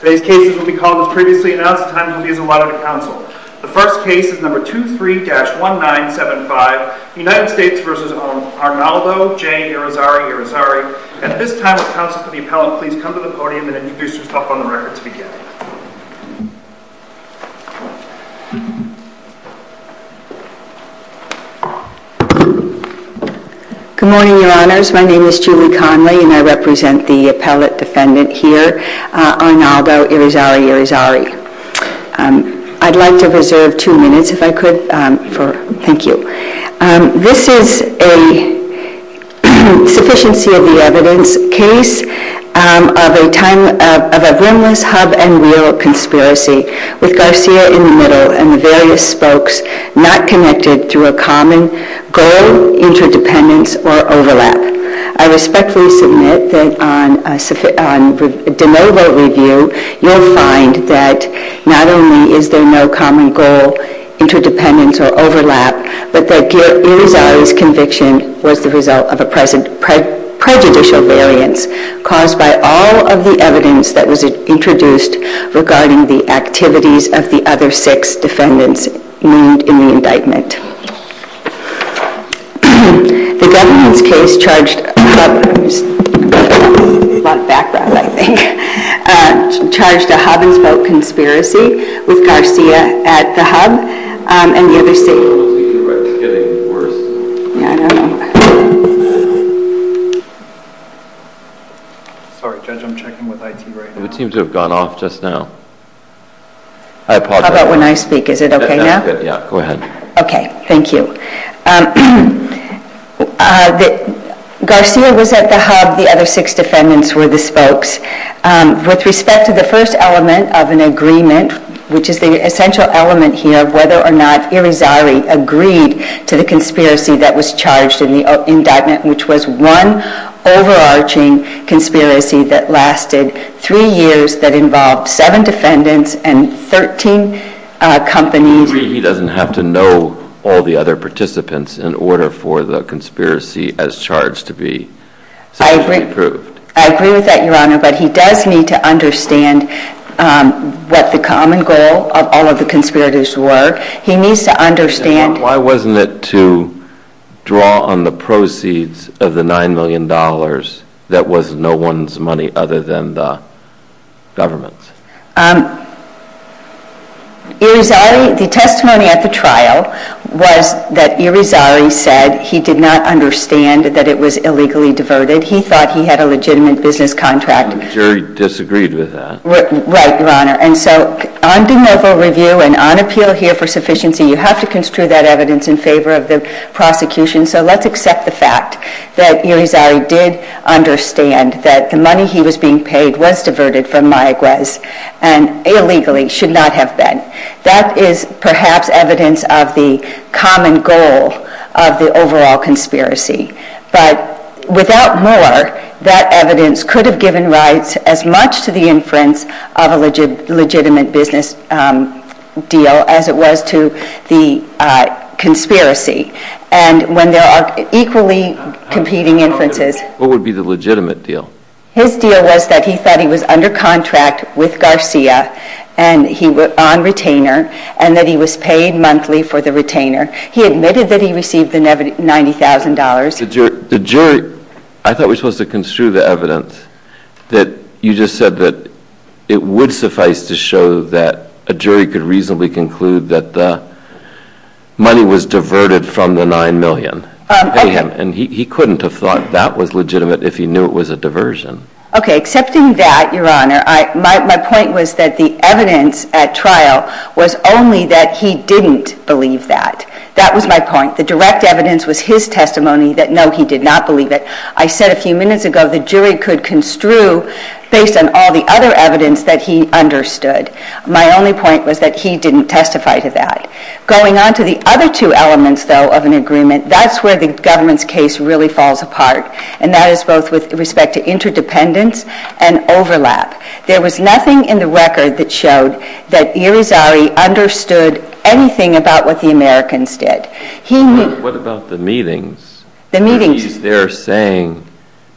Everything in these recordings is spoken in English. At this time, will the appellate please come to the podium and introduce herself on the record to begin. Good morning, your honors. My name is Julie Conley and I represent the appellate defendant here, Arnaldo Irizarry-Irizarry. I'd like to reserve two minutes if I could. Thank you. This is a sufficiency of the evidence case of a time of a rimless hub and wheel conspiracy with Garcia in the middle and various spokes not connected through a common goal, interdependence or overlap. I respectfully submit that on de novo review, you'll find that not only is there no common goal, interdependence or overlap, but that Irizarry's conviction was the result of a prejudicial variance caused by all of the evidence that was introduced regarding the activities of the other six defendants in the indictment. The defendant's case charged a hub and spoke conspiracy with Garcia at the hub and the other six... Sorry judge, I'm checking with IT right now. It would seem to have gone off just now. How about when I speak, is it okay now? Yeah, go ahead. Okay, thank you. Garcia was at the hub, the other six defendants were the spokes. With respect to the first element of an agreement, which is the essential element here of whether or not Irizarry agreed to the conspiracy that was charged in the indictment, which was one overarching conspiracy that lasted three years that involved seven defendants and 13 companies. You agree he doesn't have to know all the other participants in order for the conspiracy as charged to be sexually approved? I agree with that, Your Honor, but he does need to understand what the common goal of all of the conspirators were. He needs to understand... Why wasn't it to draw on the proceeds of the $9 million that was no one's money other than the government's? The testimony at the trial was that Irizarry said he did not understand that it was illegally devoted. He thought he had a legitimate business contract. The jury disagreed with that. Right, Your Honor. And so on de novo review and on appeal here for sufficiency, you have to construe that evidence in favor of the prosecution. So let's accept the fact that Irizarry did understand that the money he was being paid was diverted from Mayaguez and illegally should not have been. That is perhaps evidence of the common goal of the overall conspiracy. But without more, that evidence could have given rise as much to the inference of a legitimate business deal as it was to the conspiracy. And when there are equally competing inferences... What would be the legitimate deal? His deal was that he thought he was under contract with Garcia on retainer and that he was paid monthly for the retainer. He admitted that he received the $90,000. The jury... I thought we were supposed to construe the evidence that you just said that it would suffice to show that a jury could reasonably conclude that the money was diverted from the $9 million. And he couldn't have thought that was legitimate if he knew it was a diversion. Okay, accepting that, Your Honor, my point was that the evidence at trial was only that he didn't believe that. That was my point. The direct evidence was his testimony that no, he did not believe it. I said a few minutes ago the jury could construe based on all the other evidence that he understood. My only point was that he didn't testify to that. Going on to the other two elements, though, of an agreement, that's where the government's case really falls apart. And that is both with respect to interdependence and overlap. There was nothing in the record that showed that Irizarry understood anything about what the Americans did. What about the meetings? The meetings. He's there saying,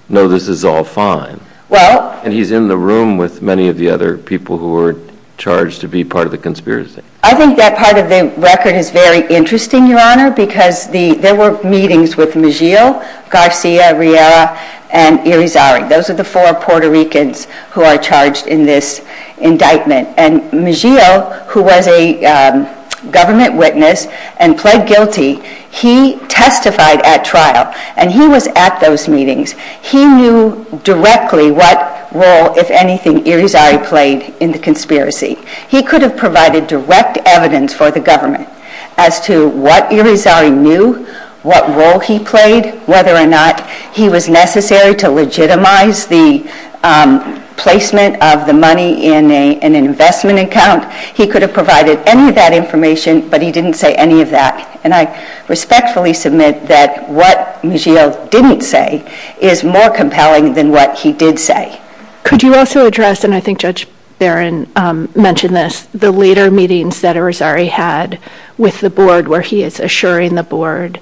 no, this is all fine. Well... And he's in the room with many of the other people who were charged to be part of the conspiracy. I think that part of the record is very interesting, Your Honor, because there were meetings with Migil, Garcia, Riera, and Irizarry. Those are the four Puerto Ricans who are charged in this indictment. And Migil, who was a government witness and pled guilty, he testified at trial. And he was at those meetings. He knew directly what role, if anything, Irizarry played in the conspiracy. He could have provided direct evidence for the government as to what Irizarry knew, what role he played, whether or not he was necessary to legitimize the placement of the money in an investment account. He could have provided any of that information, but he didn't say any of that. And I respectfully submit that what Migil didn't say is more compelling than what he did say. Could you also address, and I think Judge Barron mentioned this, the later meetings that Irizarry had with the board where he is assuring the board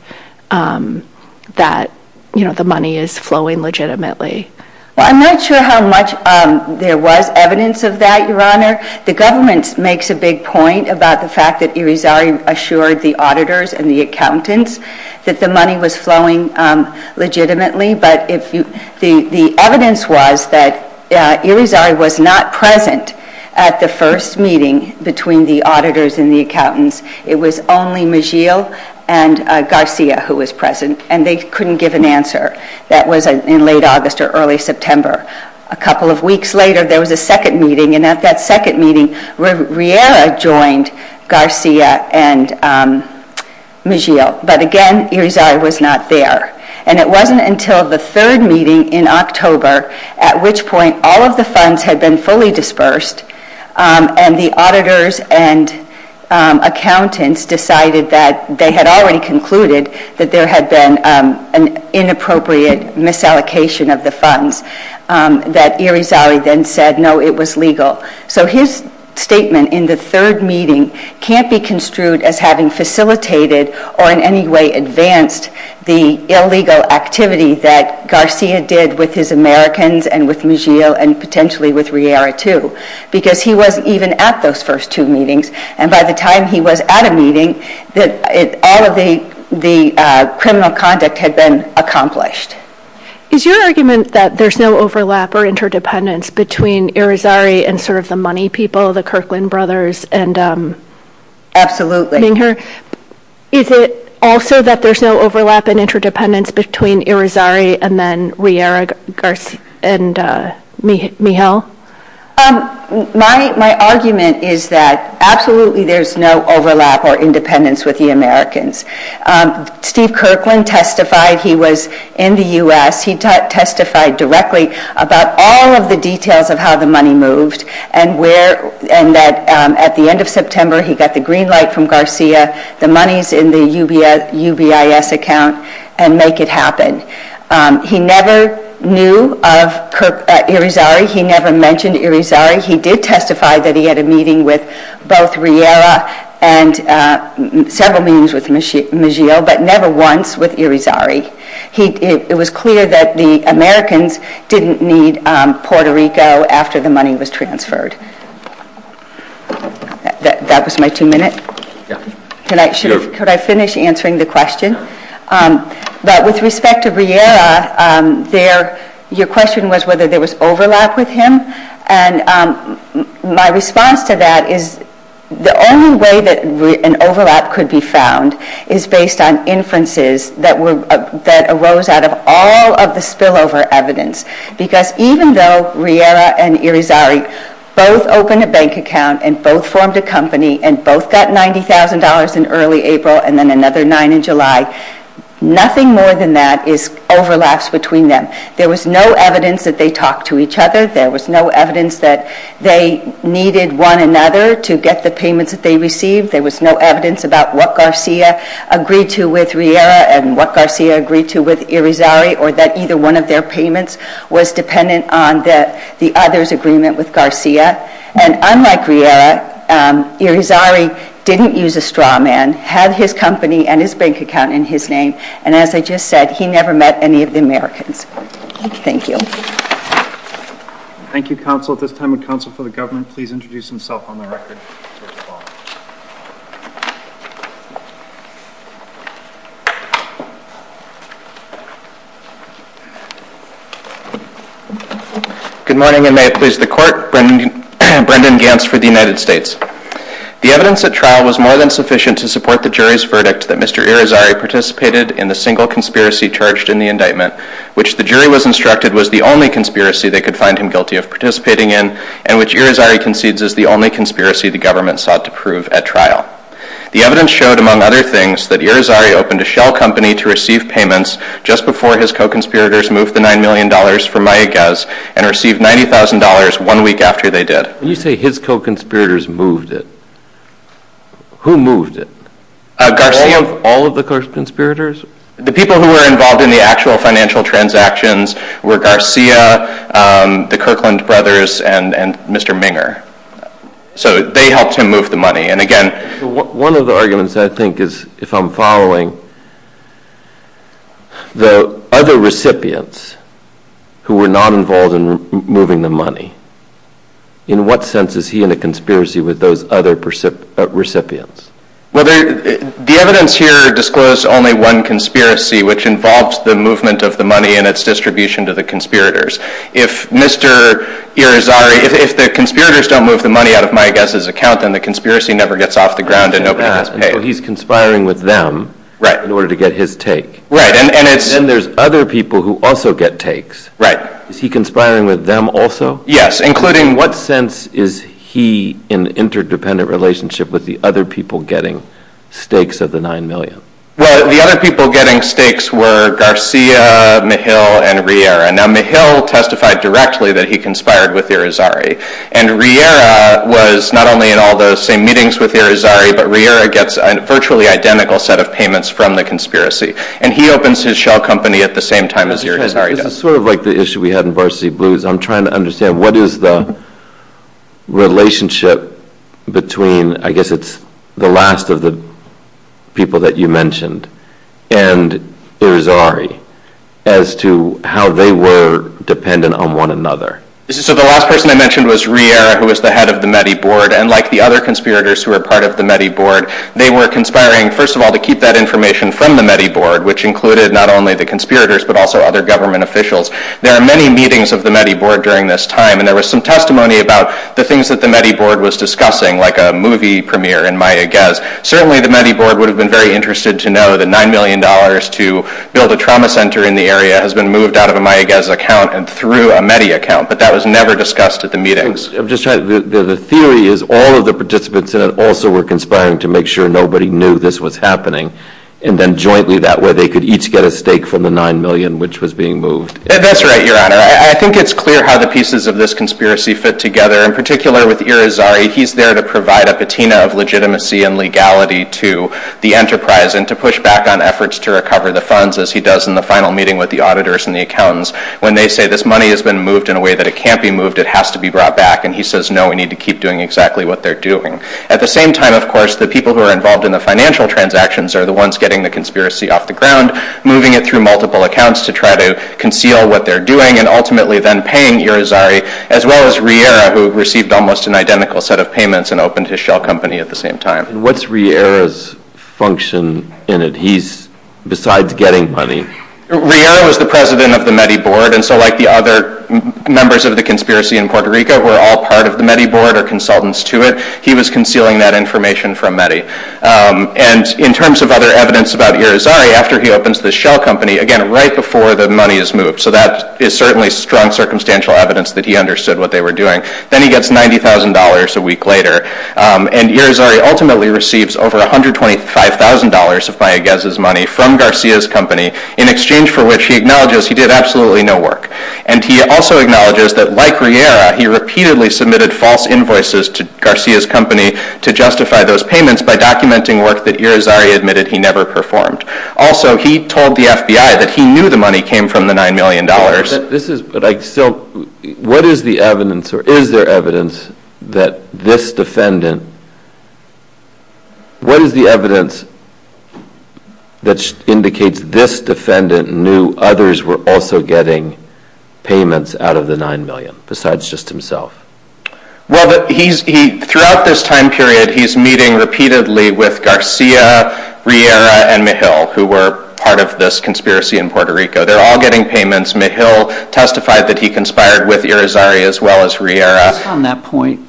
that the money is flowing legitimately? Well, I'm not sure how much there was evidence of that, Your Honor. The government makes a big point about the fact that Irizarry assured the auditors and the accountants that the money was flowing legitimately. But the evidence was that Irizarry was not present at the first meeting between the auditors and the accountants. It was only Migil and Garcia who was present, and they couldn't give an answer. That was in late August or early September. A couple of weeks later, there was a second meeting, and at that second meeting, Riera joined Garcia and Migil. But again, Irizarry was not there. And it wasn't until the third meeting in October, at which point all of the funds had been fully dispersed, and the auditors and accountants decided that they had already concluded that there had been an inappropriate misallocation of the funds, that Irizarry then said, no, it was legal. So his statement in the third meeting can't be construed as having facilitated or in any way advanced the illegal activity that Garcia did with his Americans and with Migil and potentially with Riera, too, because he wasn't even at those first two meetings. And by the time he was at a meeting, all of the criminal conduct had been accomplished. Is your argument that there's no overlap or interdependence between Irizarry and sort of the money people, the Kirkland brothers and Minger? Is it also that there's no overlap and interdependence between Irizarry and then Riera, Garcia, and Migil? My argument is that absolutely there's no overlap or independence with the Americans. Steve Kirkland testified. He was in the U.S. He testified directly about all of the details of how the money moved and that at the end of September, he got the green light from Garcia, the money's in the UBIS account, and make it happen. He never knew of Irizarry. He never mentioned Irizarry. He did testify that he had a meeting with both Riera and several meetings with Migil, but never once with Irizarry. It was clear that the Americans didn't need Puerto Rico after the money was transferred. That was my two minutes. Could I finish answering the question? But with respect to Riera, your question was whether there was overlap with him. And my response to that is the only way that an overlap could be found is based on inferences that arose out of all of the spillover evidence. Because even though Riera and Irizarry both opened a bank account and both formed a company and both got $90,000 in early April and then another nine in July, nothing more than that is overlaps between them. There was no evidence that they talked to each other. There was no evidence that they needed one another to get the payments that they received. There was no evidence about what Garcia agreed to with Riera and what Garcia agreed to with Irizarry or that either one of their payments was dependent on the other's agreement with Garcia. And unlike Riera, Irizarry didn't use a straw man, had his company and his bank account in his name, and as I just said, he never met any of the Americans. Thank you. Thank you, Counsel. At this time, would Counsel for the Government please introduce himself on the record? Good morning, and may it please the Court. Brendan Gantz for the United States. The evidence at trial was more than sufficient to support the jury's verdict that Mr. Irizarry participated in the single conspiracy charged in the indictment, which the jury was instructed was the only conspiracy they could find him guilty of participating in and which Irizarry concedes is the only conspiracy the government sought to prove at trial. The evidence showed, among other things, that Irizarry opened a shell company to receive payments just before his co-conspirators moved the $9 million from Mayaguez and received $90,000 one week after they did. When you say his co-conspirators moved it, who moved it? Garcia. All of the co-conspirators? The people who were involved in the actual financial transactions were Garcia, the Kirkland brothers, and Mr. Minger. So they helped him move the money, and again... One of the arguments I think is, if I'm following, the other recipients who were not involved in moving the money, in what sense is he in a conspiracy with those other recipients? The evidence here disclosed only one conspiracy, which involves the movement of the money and its distribution to the conspirators. If Mr. Irizarry, if the conspirators don't move the money out of Mayaguez's account, then the conspiracy never gets off the ground and nobody has to pay. So he's conspiring with them in order to get his take. Right, and it's... Then there's other people who also get takes. Right. Is he conspiring with them also? Yes, including... What sense is he in an interdependent relationship with the other people getting stakes of the $9 million? Well, the other people getting stakes were Garcia, Mihil, and Riera. Now, Mihil testified directly that he conspired with Irizarry, and Riera was not only in all those same meetings with Irizarry, but Riera gets a virtually identical set of payments from the conspiracy, and he opens his shell company at the same time as Irizarry does. This is sort of like the issue we had in Varsity Blues. I'm trying to understand what is the relationship between, I guess it's the last of the people that you mentioned, and Irizarry as to how they were dependent on one another. So the last person I mentioned was Riera, who was the head of the METI board, and like the other conspirators who were part of the METI board, they were conspiring, first of all, to keep that information from the METI board, which included not only the conspirators but also other government officials. There are many meetings of the METI board during this time, and there was some testimony about the things that the METI board was discussing, like a movie premiere in Mayaguez. Certainly the METI board would have been very interested to know that $9 million to build a trauma center in the area has been moved out of a Mayaguez account and through a METI account, but that was never discussed at the meetings. The theory is all of the participants in it also were conspiring to make sure nobody knew this was happening, and then jointly that way they could each get a stake from the $9 million, which was being moved. That's right, Your Honor. I think it's clear how the pieces of this conspiracy fit together. In particular with Irizarry, he's there to provide a patina of legitimacy and legality to the enterprise and to push back on efforts to recover the funds, as he does in the final meeting with the auditors and the accountants, when they say this money has been moved in a way that it can't be moved, it has to be brought back. And he says, no, we need to keep doing exactly what they're doing. At the same time, of course, the people who are involved in the financial transactions are the ones getting the conspiracy off the ground, moving it through multiple accounts to try to conceal what they're doing, and ultimately then paying Irizarry, as well as Riera, who received almost an identical set of payments and opened his shell company at the same time. What's Riera's function in it? He's, besides getting money... Riera was the president of the METI board, and so like the other members of the conspiracy in Puerto Rico who are all part of the METI board or consultants to it, he was concealing that information from METI. And in terms of other evidence about Irizarry, after he opens the shell company, again, right before the money is moved, so that is certainly strong circumstantial evidence that he understood what they were doing. Then he gets $90,000 a week later, and Irizarry ultimately receives over $125,000 of Mayaguez's money from Garcia's company, in exchange for which he acknowledges he did absolutely no work. And he also acknowledges that, like Riera, he repeatedly submitted false invoices to Garcia's company to justify those payments by documenting work that Irizarry admitted he never performed. Also, he told the FBI that he knew the money came from the $9 million. But I still... What is the evidence, or is there evidence, that this defendant... What is the evidence that indicates this defendant knew others were also getting payments out of the $9 million, besides just himself? Well, throughout this time period, he's meeting repeatedly with Garcia, Riera, and Mejil, who were part of this conspiracy in Puerto Rico. They're all getting payments. Mejil testified that he conspired with Irizarry as well as Riera. On that point,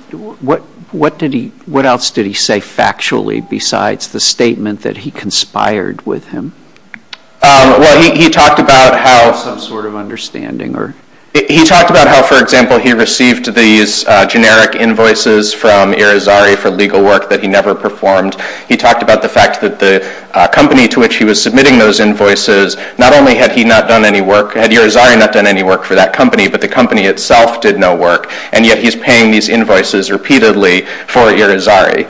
what else did he say factually besides the statement that he conspired with him? Well, he talked about how... Some sort of understanding, or... He talked about how, for example, he received these generic invoices from Irizarry for legal work that he never performed. He talked about the fact that the company to which he was submitting those invoices, not only had he not done any work, had Irizarry not done any work for that company, but the company itself did no work. And yet he's paying these invoices repeatedly for Irizarry.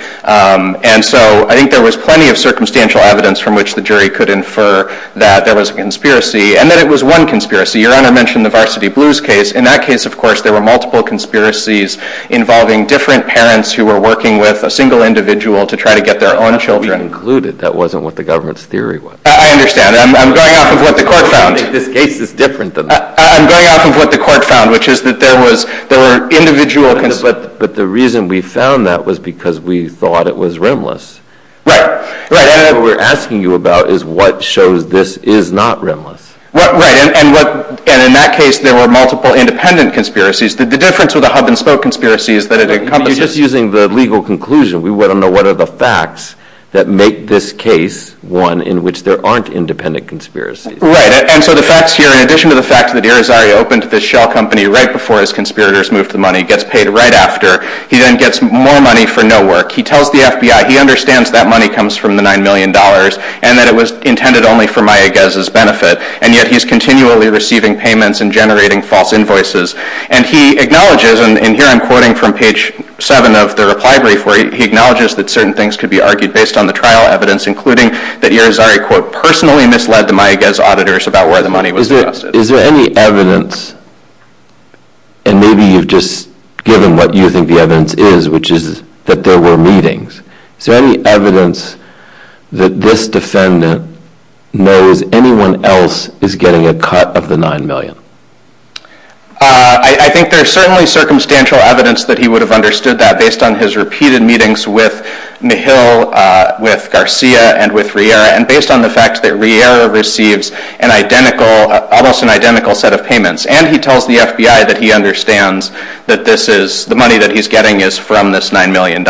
And so I think there was plenty of circumstantial evidence from which the jury could infer that there was a conspiracy and that it was one conspiracy. Your Honor mentioned the Varsity Blues case. In that case, of course, there were multiple conspiracies involving different parents who were working with a single individual to try to get their own children... We concluded that wasn't what the government's theory was. I understand. I'm going off of what the court found. This case is different than that. I'm going off of what the court found, which is that there were individual... But the reason we found that was because we thought it was rimless. Right. What we're asking you about is what shows this is not rimless. Right. And in that case, there were multiple independent conspiracies. The difference with a hub-and-spoke conspiracy is that it encompasses... You're just using the legal conclusion. We want to know what are the facts that make this case one in which there aren't independent conspiracies. Right. And so the facts here, in addition to the fact that Irizarry opened this shell company right before his conspirators moved the money, gets paid right after, he then gets more money for no work, he tells the FBI he understands that money comes from the $9 million and that it was intended only for Mayaguez's benefit, and yet he's continually receiving payments and generating false invoices. And he acknowledges, and here I'm quoting from page 7 of the reply brief, where he acknowledges that certain things could be argued based on the trial evidence, including that Irizarry, quote, personally misled the Mayaguez auditors about where the money was invested. Is there any evidence, and maybe you've just given what you think the evidence is, which is that there were meetings. Is there any evidence that this defendant knows anyone else is getting a cut of the $9 million? I think there's certainly circumstantial evidence that he would have understood that based on his repeated meetings with Mihal, with Garcia, and with Riera, and based on the fact that Riera receives an identical, almost an identical set of payments. And he tells the FBI that he understands that this is, the money that he's getting is from this $9 million.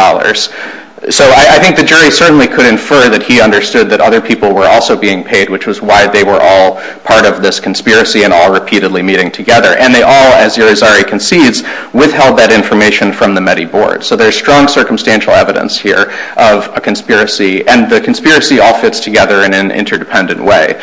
So I think the jury certainly could infer that he understood that other people were also being paid, which was why they were all part of this conspiracy and all repeatedly meeting together. And they all, as Irizarry concedes, withheld that information from the METI board. So there's strong circumstantial evidence here of a conspiracy, and the conspiracy all fits together in an interdependent way.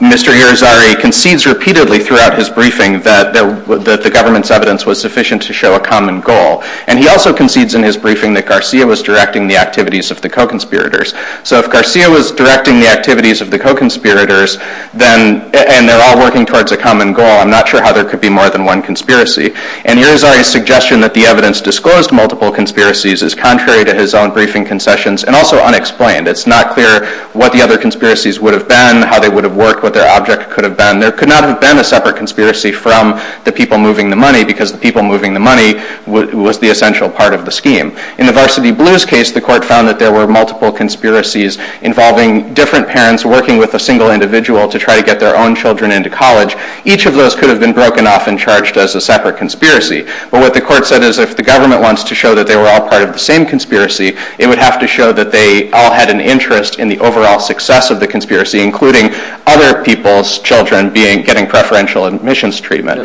Mr. Irizarry concedes repeatedly throughout his briefing that the government's evidence was sufficient to show a common goal. And he also concedes in his briefing that Garcia was directing the activities of the co-conspirators. So if Garcia was directing the activities of the co-conspirators, and they're all working towards a common goal, I'm not sure how there could be more than one conspiracy. And Irizarry's suggestion that the evidence disclosed multiple conspiracies is contrary to his own briefing concessions and also unexplained. It's not clear what the other conspiracies would have been, how they would have worked, what their object could have been. There could not have been a separate conspiracy from the people moving the money because the people moving the money was the essential part of the scheme. In the Varsity Blues case, the court found that there were multiple conspiracies involving different parents working with a single individual to try to get their own children into college. Each of those could have been broken off and charged as a separate conspiracy. But what the court said is if the government wants to show that they were all part of the same conspiracy, it would have to show that they all had an interest in the overall success of the conspiracy, including other people's children getting preferential admissions treatment.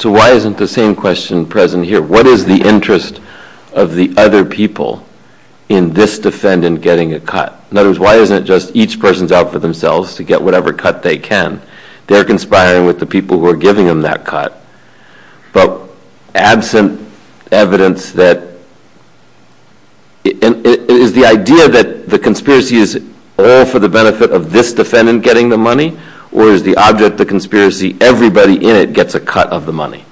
So why isn't the same question present here? What is the interest of the other people in this defendant getting a cut? In other words, why isn't it just each person's out for themselves to get whatever cut they can? They're conspiring with the people who are giving them that cut. But absent evidence that... Is the idea that the conspiracy is all for the benefit of this defendant getting the money or is the object of the conspiracy everybody in it gets a cut of the money?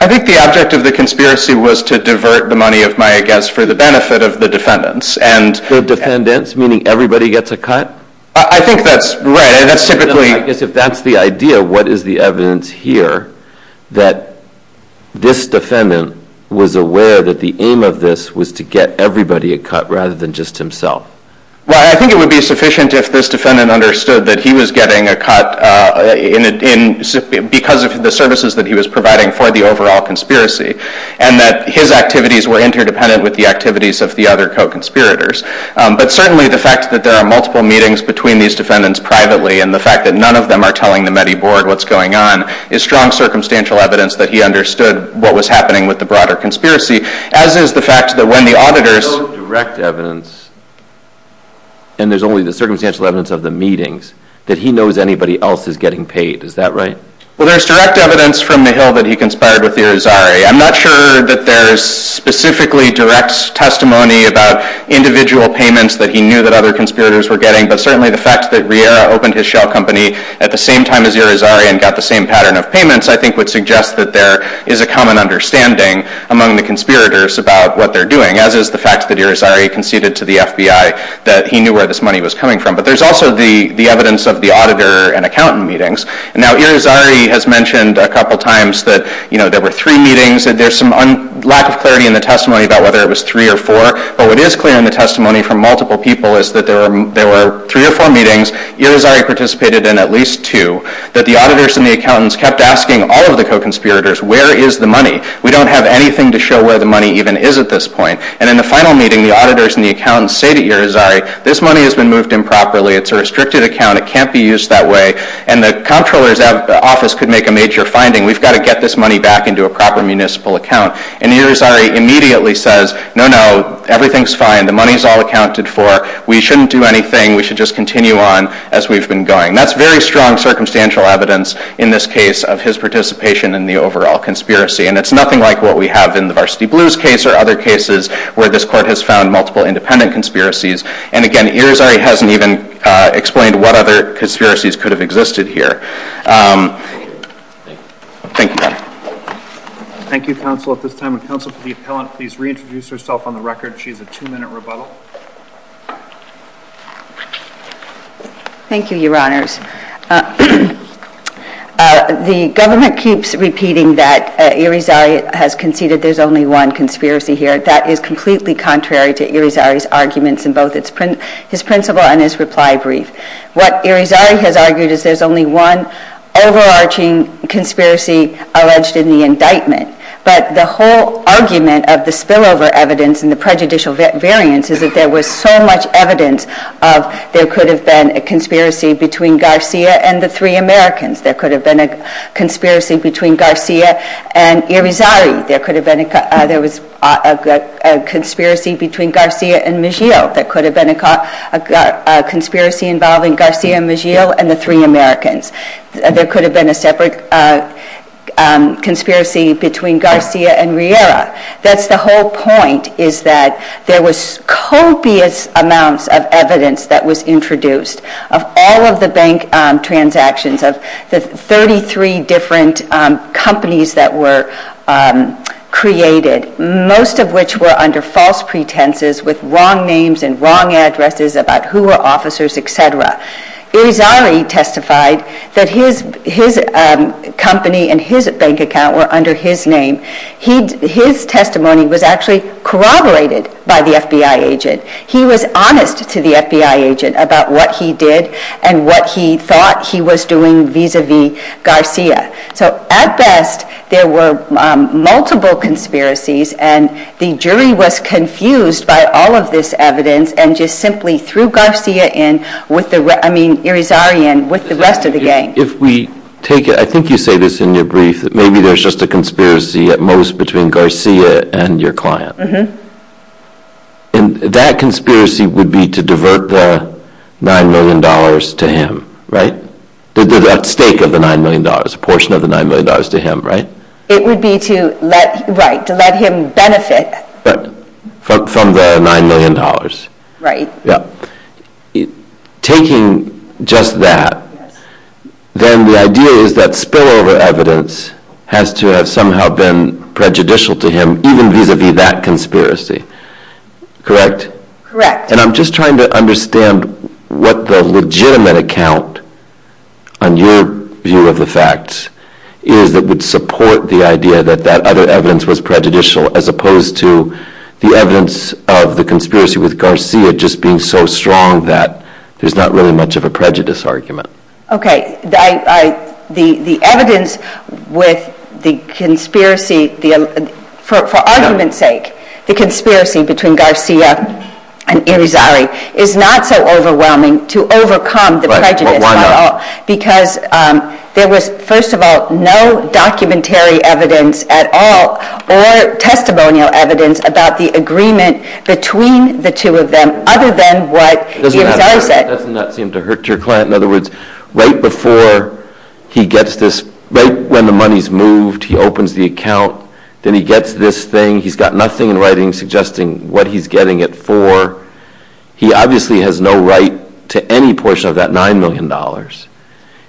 I think the object of the conspiracy was to divert the money, I guess, for the benefit of the defendants. The defendants, meaning everybody gets a cut? I think that's right. If that's the idea, what is the evidence here that this defendant was aware that the aim of this was to get everybody a cut rather than just himself? I think it would be sufficient if this defendant understood that he was getting a cut because of the services that he was providing for the overall conspiracy and that his activities were interdependent with the activities of the other co-conspirators. But certainly the fact that there are multiple meetings between these defendants privately and the fact that none of them are telling the METI board what's going on is strong circumstantial evidence that he understood what was happening with the broader conspiracy, as is the fact that when the auditors... There's no direct evidence, and there's only the circumstantial evidence of the meetings, that he knows anybody else is getting paid. Is that right? Well, there's direct evidence from the Hill that he conspired with Irizarry. I'm not sure that there's specifically direct testimony about individual payments that he knew that other conspirators were getting, but certainly the fact that Riera opened his shell company at the same time as Irizarry and got the same pattern of payments I think would suggest that there is a common understanding among the conspirators about what they're doing, as is the fact that Irizarry conceded to the FBI that he knew where this money was coming from. But there's also the evidence of the auditor and accountant meetings. Now, Irizarry has mentioned a couple times that there were three meetings. There's some lack of clarity in the testimony about whether it was three or four, but what is clear in the testimony from multiple people is that there were three or four meetings, Irizarry participated in at least two, that the auditors and the accountants kept asking all of the co-conspirators, where is the money? We don't have anything to show where the money even is at this point. And in the final meeting, the auditors and the accountants say to Irizarry, this money has been moved improperly, it's a restricted account, it can't be used that way, and the comptroller's office could make a major finding, we've got to get this money back into a proper municipal account. And Irizarry immediately says, no, no, everything's fine, the money's all accounted for, we shouldn't do anything, we should just continue on as we've been going. That's very strong circumstantial evidence in this case of his participation in the overall conspiracy, and it's nothing like what we have in the Varsity Blues case or other cases where this court has found multiple independent conspiracies, and again, Irizarry hasn't even explained what other conspiracies could have existed here. Thank you, Your Honor. Thank you, counsel. At this time, would counsel for the appellant please reintroduce herself on the record? She has a two-minute rebuttal. Thank you, Your Honors. The government keeps repeating that Irizarry has conceded there's only one conspiracy here. That is completely contrary to Irizarry's arguments in both his principle and his reply brief. What Irizarry has argued is there's only one overarching conspiracy alleged in the indictment, but the whole argument of the spillover evidence and the prejudicial variance is that there was so much evidence that there could have been a conspiracy between Garcia and the three Americans. There could have been a conspiracy between Garcia and Irizarry. There could have been a conspiracy between Garcia and Miguel. There could have been a conspiracy involving Garcia, Miguel, and the three Americans. There could have been a separate conspiracy between Garcia and Riera. That's the whole point, is that there was copious amounts of evidence that was introduced of all of the bank transactions of the 33 different companies that were created, most of which were under false pretenses with wrong names and wrong addresses about who were officers, etc. Irizarry testified that his company and his bank account were under his name. His testimony was actually corroborated by the FBI agent. He was honest to the FBI agent about what he did and what he thought he was doing vis-a-vis Garcia. At best, there were multiple conspiracies, and the jury was confused by all of this evidence and just simply threw Irizarry in with the rest of the gang. If we take it, I think you say this in your brief, that maybe there's just a conspiracy at most between Garcia and your client. That conspiracy would be to divert the $9 million to him, right? At stake of the $9 million, a portion of the $9 million to him, right? It would be to let him benefit. From the $9 million. Right. Taking just that, then the idea is that spillover evidence has to have somehow been prejudicial to him, even vis-a-vis that conspiracy. Correct? Correct. And I'm just trying to understand what the legitimate account, on your view of the facts, is that would support the idea that that other evidence was prejudicial, as opposed to the evidence of the conspiracy with Garcia just being so strong that there's not really much of a prejudice argument. The evidence with the conspiracy, for argument's sake, the conspiracy between Garcia and Irizarry, is not so overwhelming to overcome the prejudice at all. Because there was, first of all, no documentary evidence at all, or testimonial evidence about the agreement between the two of them, other than what Irizarry said. Doesn't that seem to hurt your client? In other words, right before he gets this, right when the money's moved, he opens the account, then he gets this thing, he's got nothing in writing suggesting what he's getting it for. He obviously has no right to any portion of that $9 million.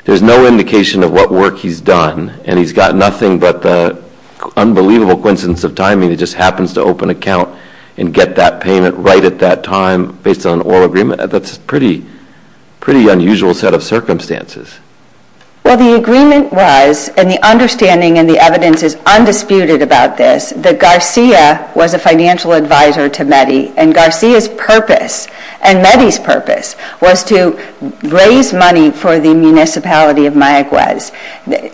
There's no indication of what work he's done, and he's got nothing but the unbelievable coincidence of timing that he just happens to open an account and get that payment right at that time, based on an oral agreement. That's a pretty unusual set of circumstances. Well, the agreement was, and the understanding and the evidence is undisputed about this, is that Garcia was a financial advisor to Meddy, and Garcia's purpose, and Meddy's purpose, was to raise money for the municipality of Mayaguez.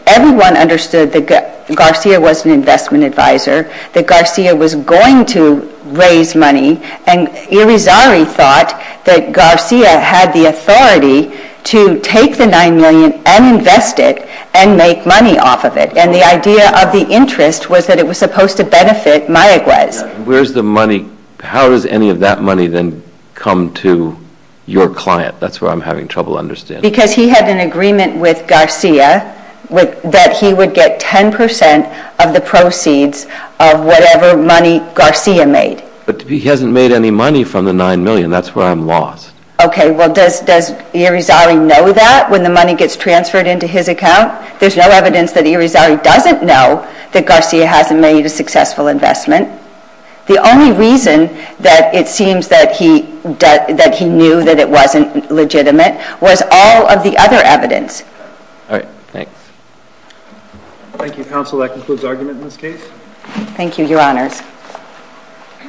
Everyone understood that Garcia was an investment advisor, that Garcia was going to raise money, and Irizarry thought that Garcia had the authority to take the $9 million and invest it, and make money off of it. And the idea of the interest was that it was supposed to benefit Mayaguez. Where's the money? How does any of that money then come to your client? That's where I'm having trouble understanding. Because he had an agreement with Garcia that he would get 10% of the proceeds of whatever money Garcia made. But he hasn't made any money from the $9 million. That's where I'm lost. Okay, well, does Irizarry know that, when the money gets transferred into his account? There's no evidence that Irizarry doesn't know that Garcia hasn't made a successful investment. The only reason that it seems that he knew that it wasn't legitimate was all of the other evidence. All right, thanks. Thank you, counsel. That concludes argument in this case. Thank you, your honors.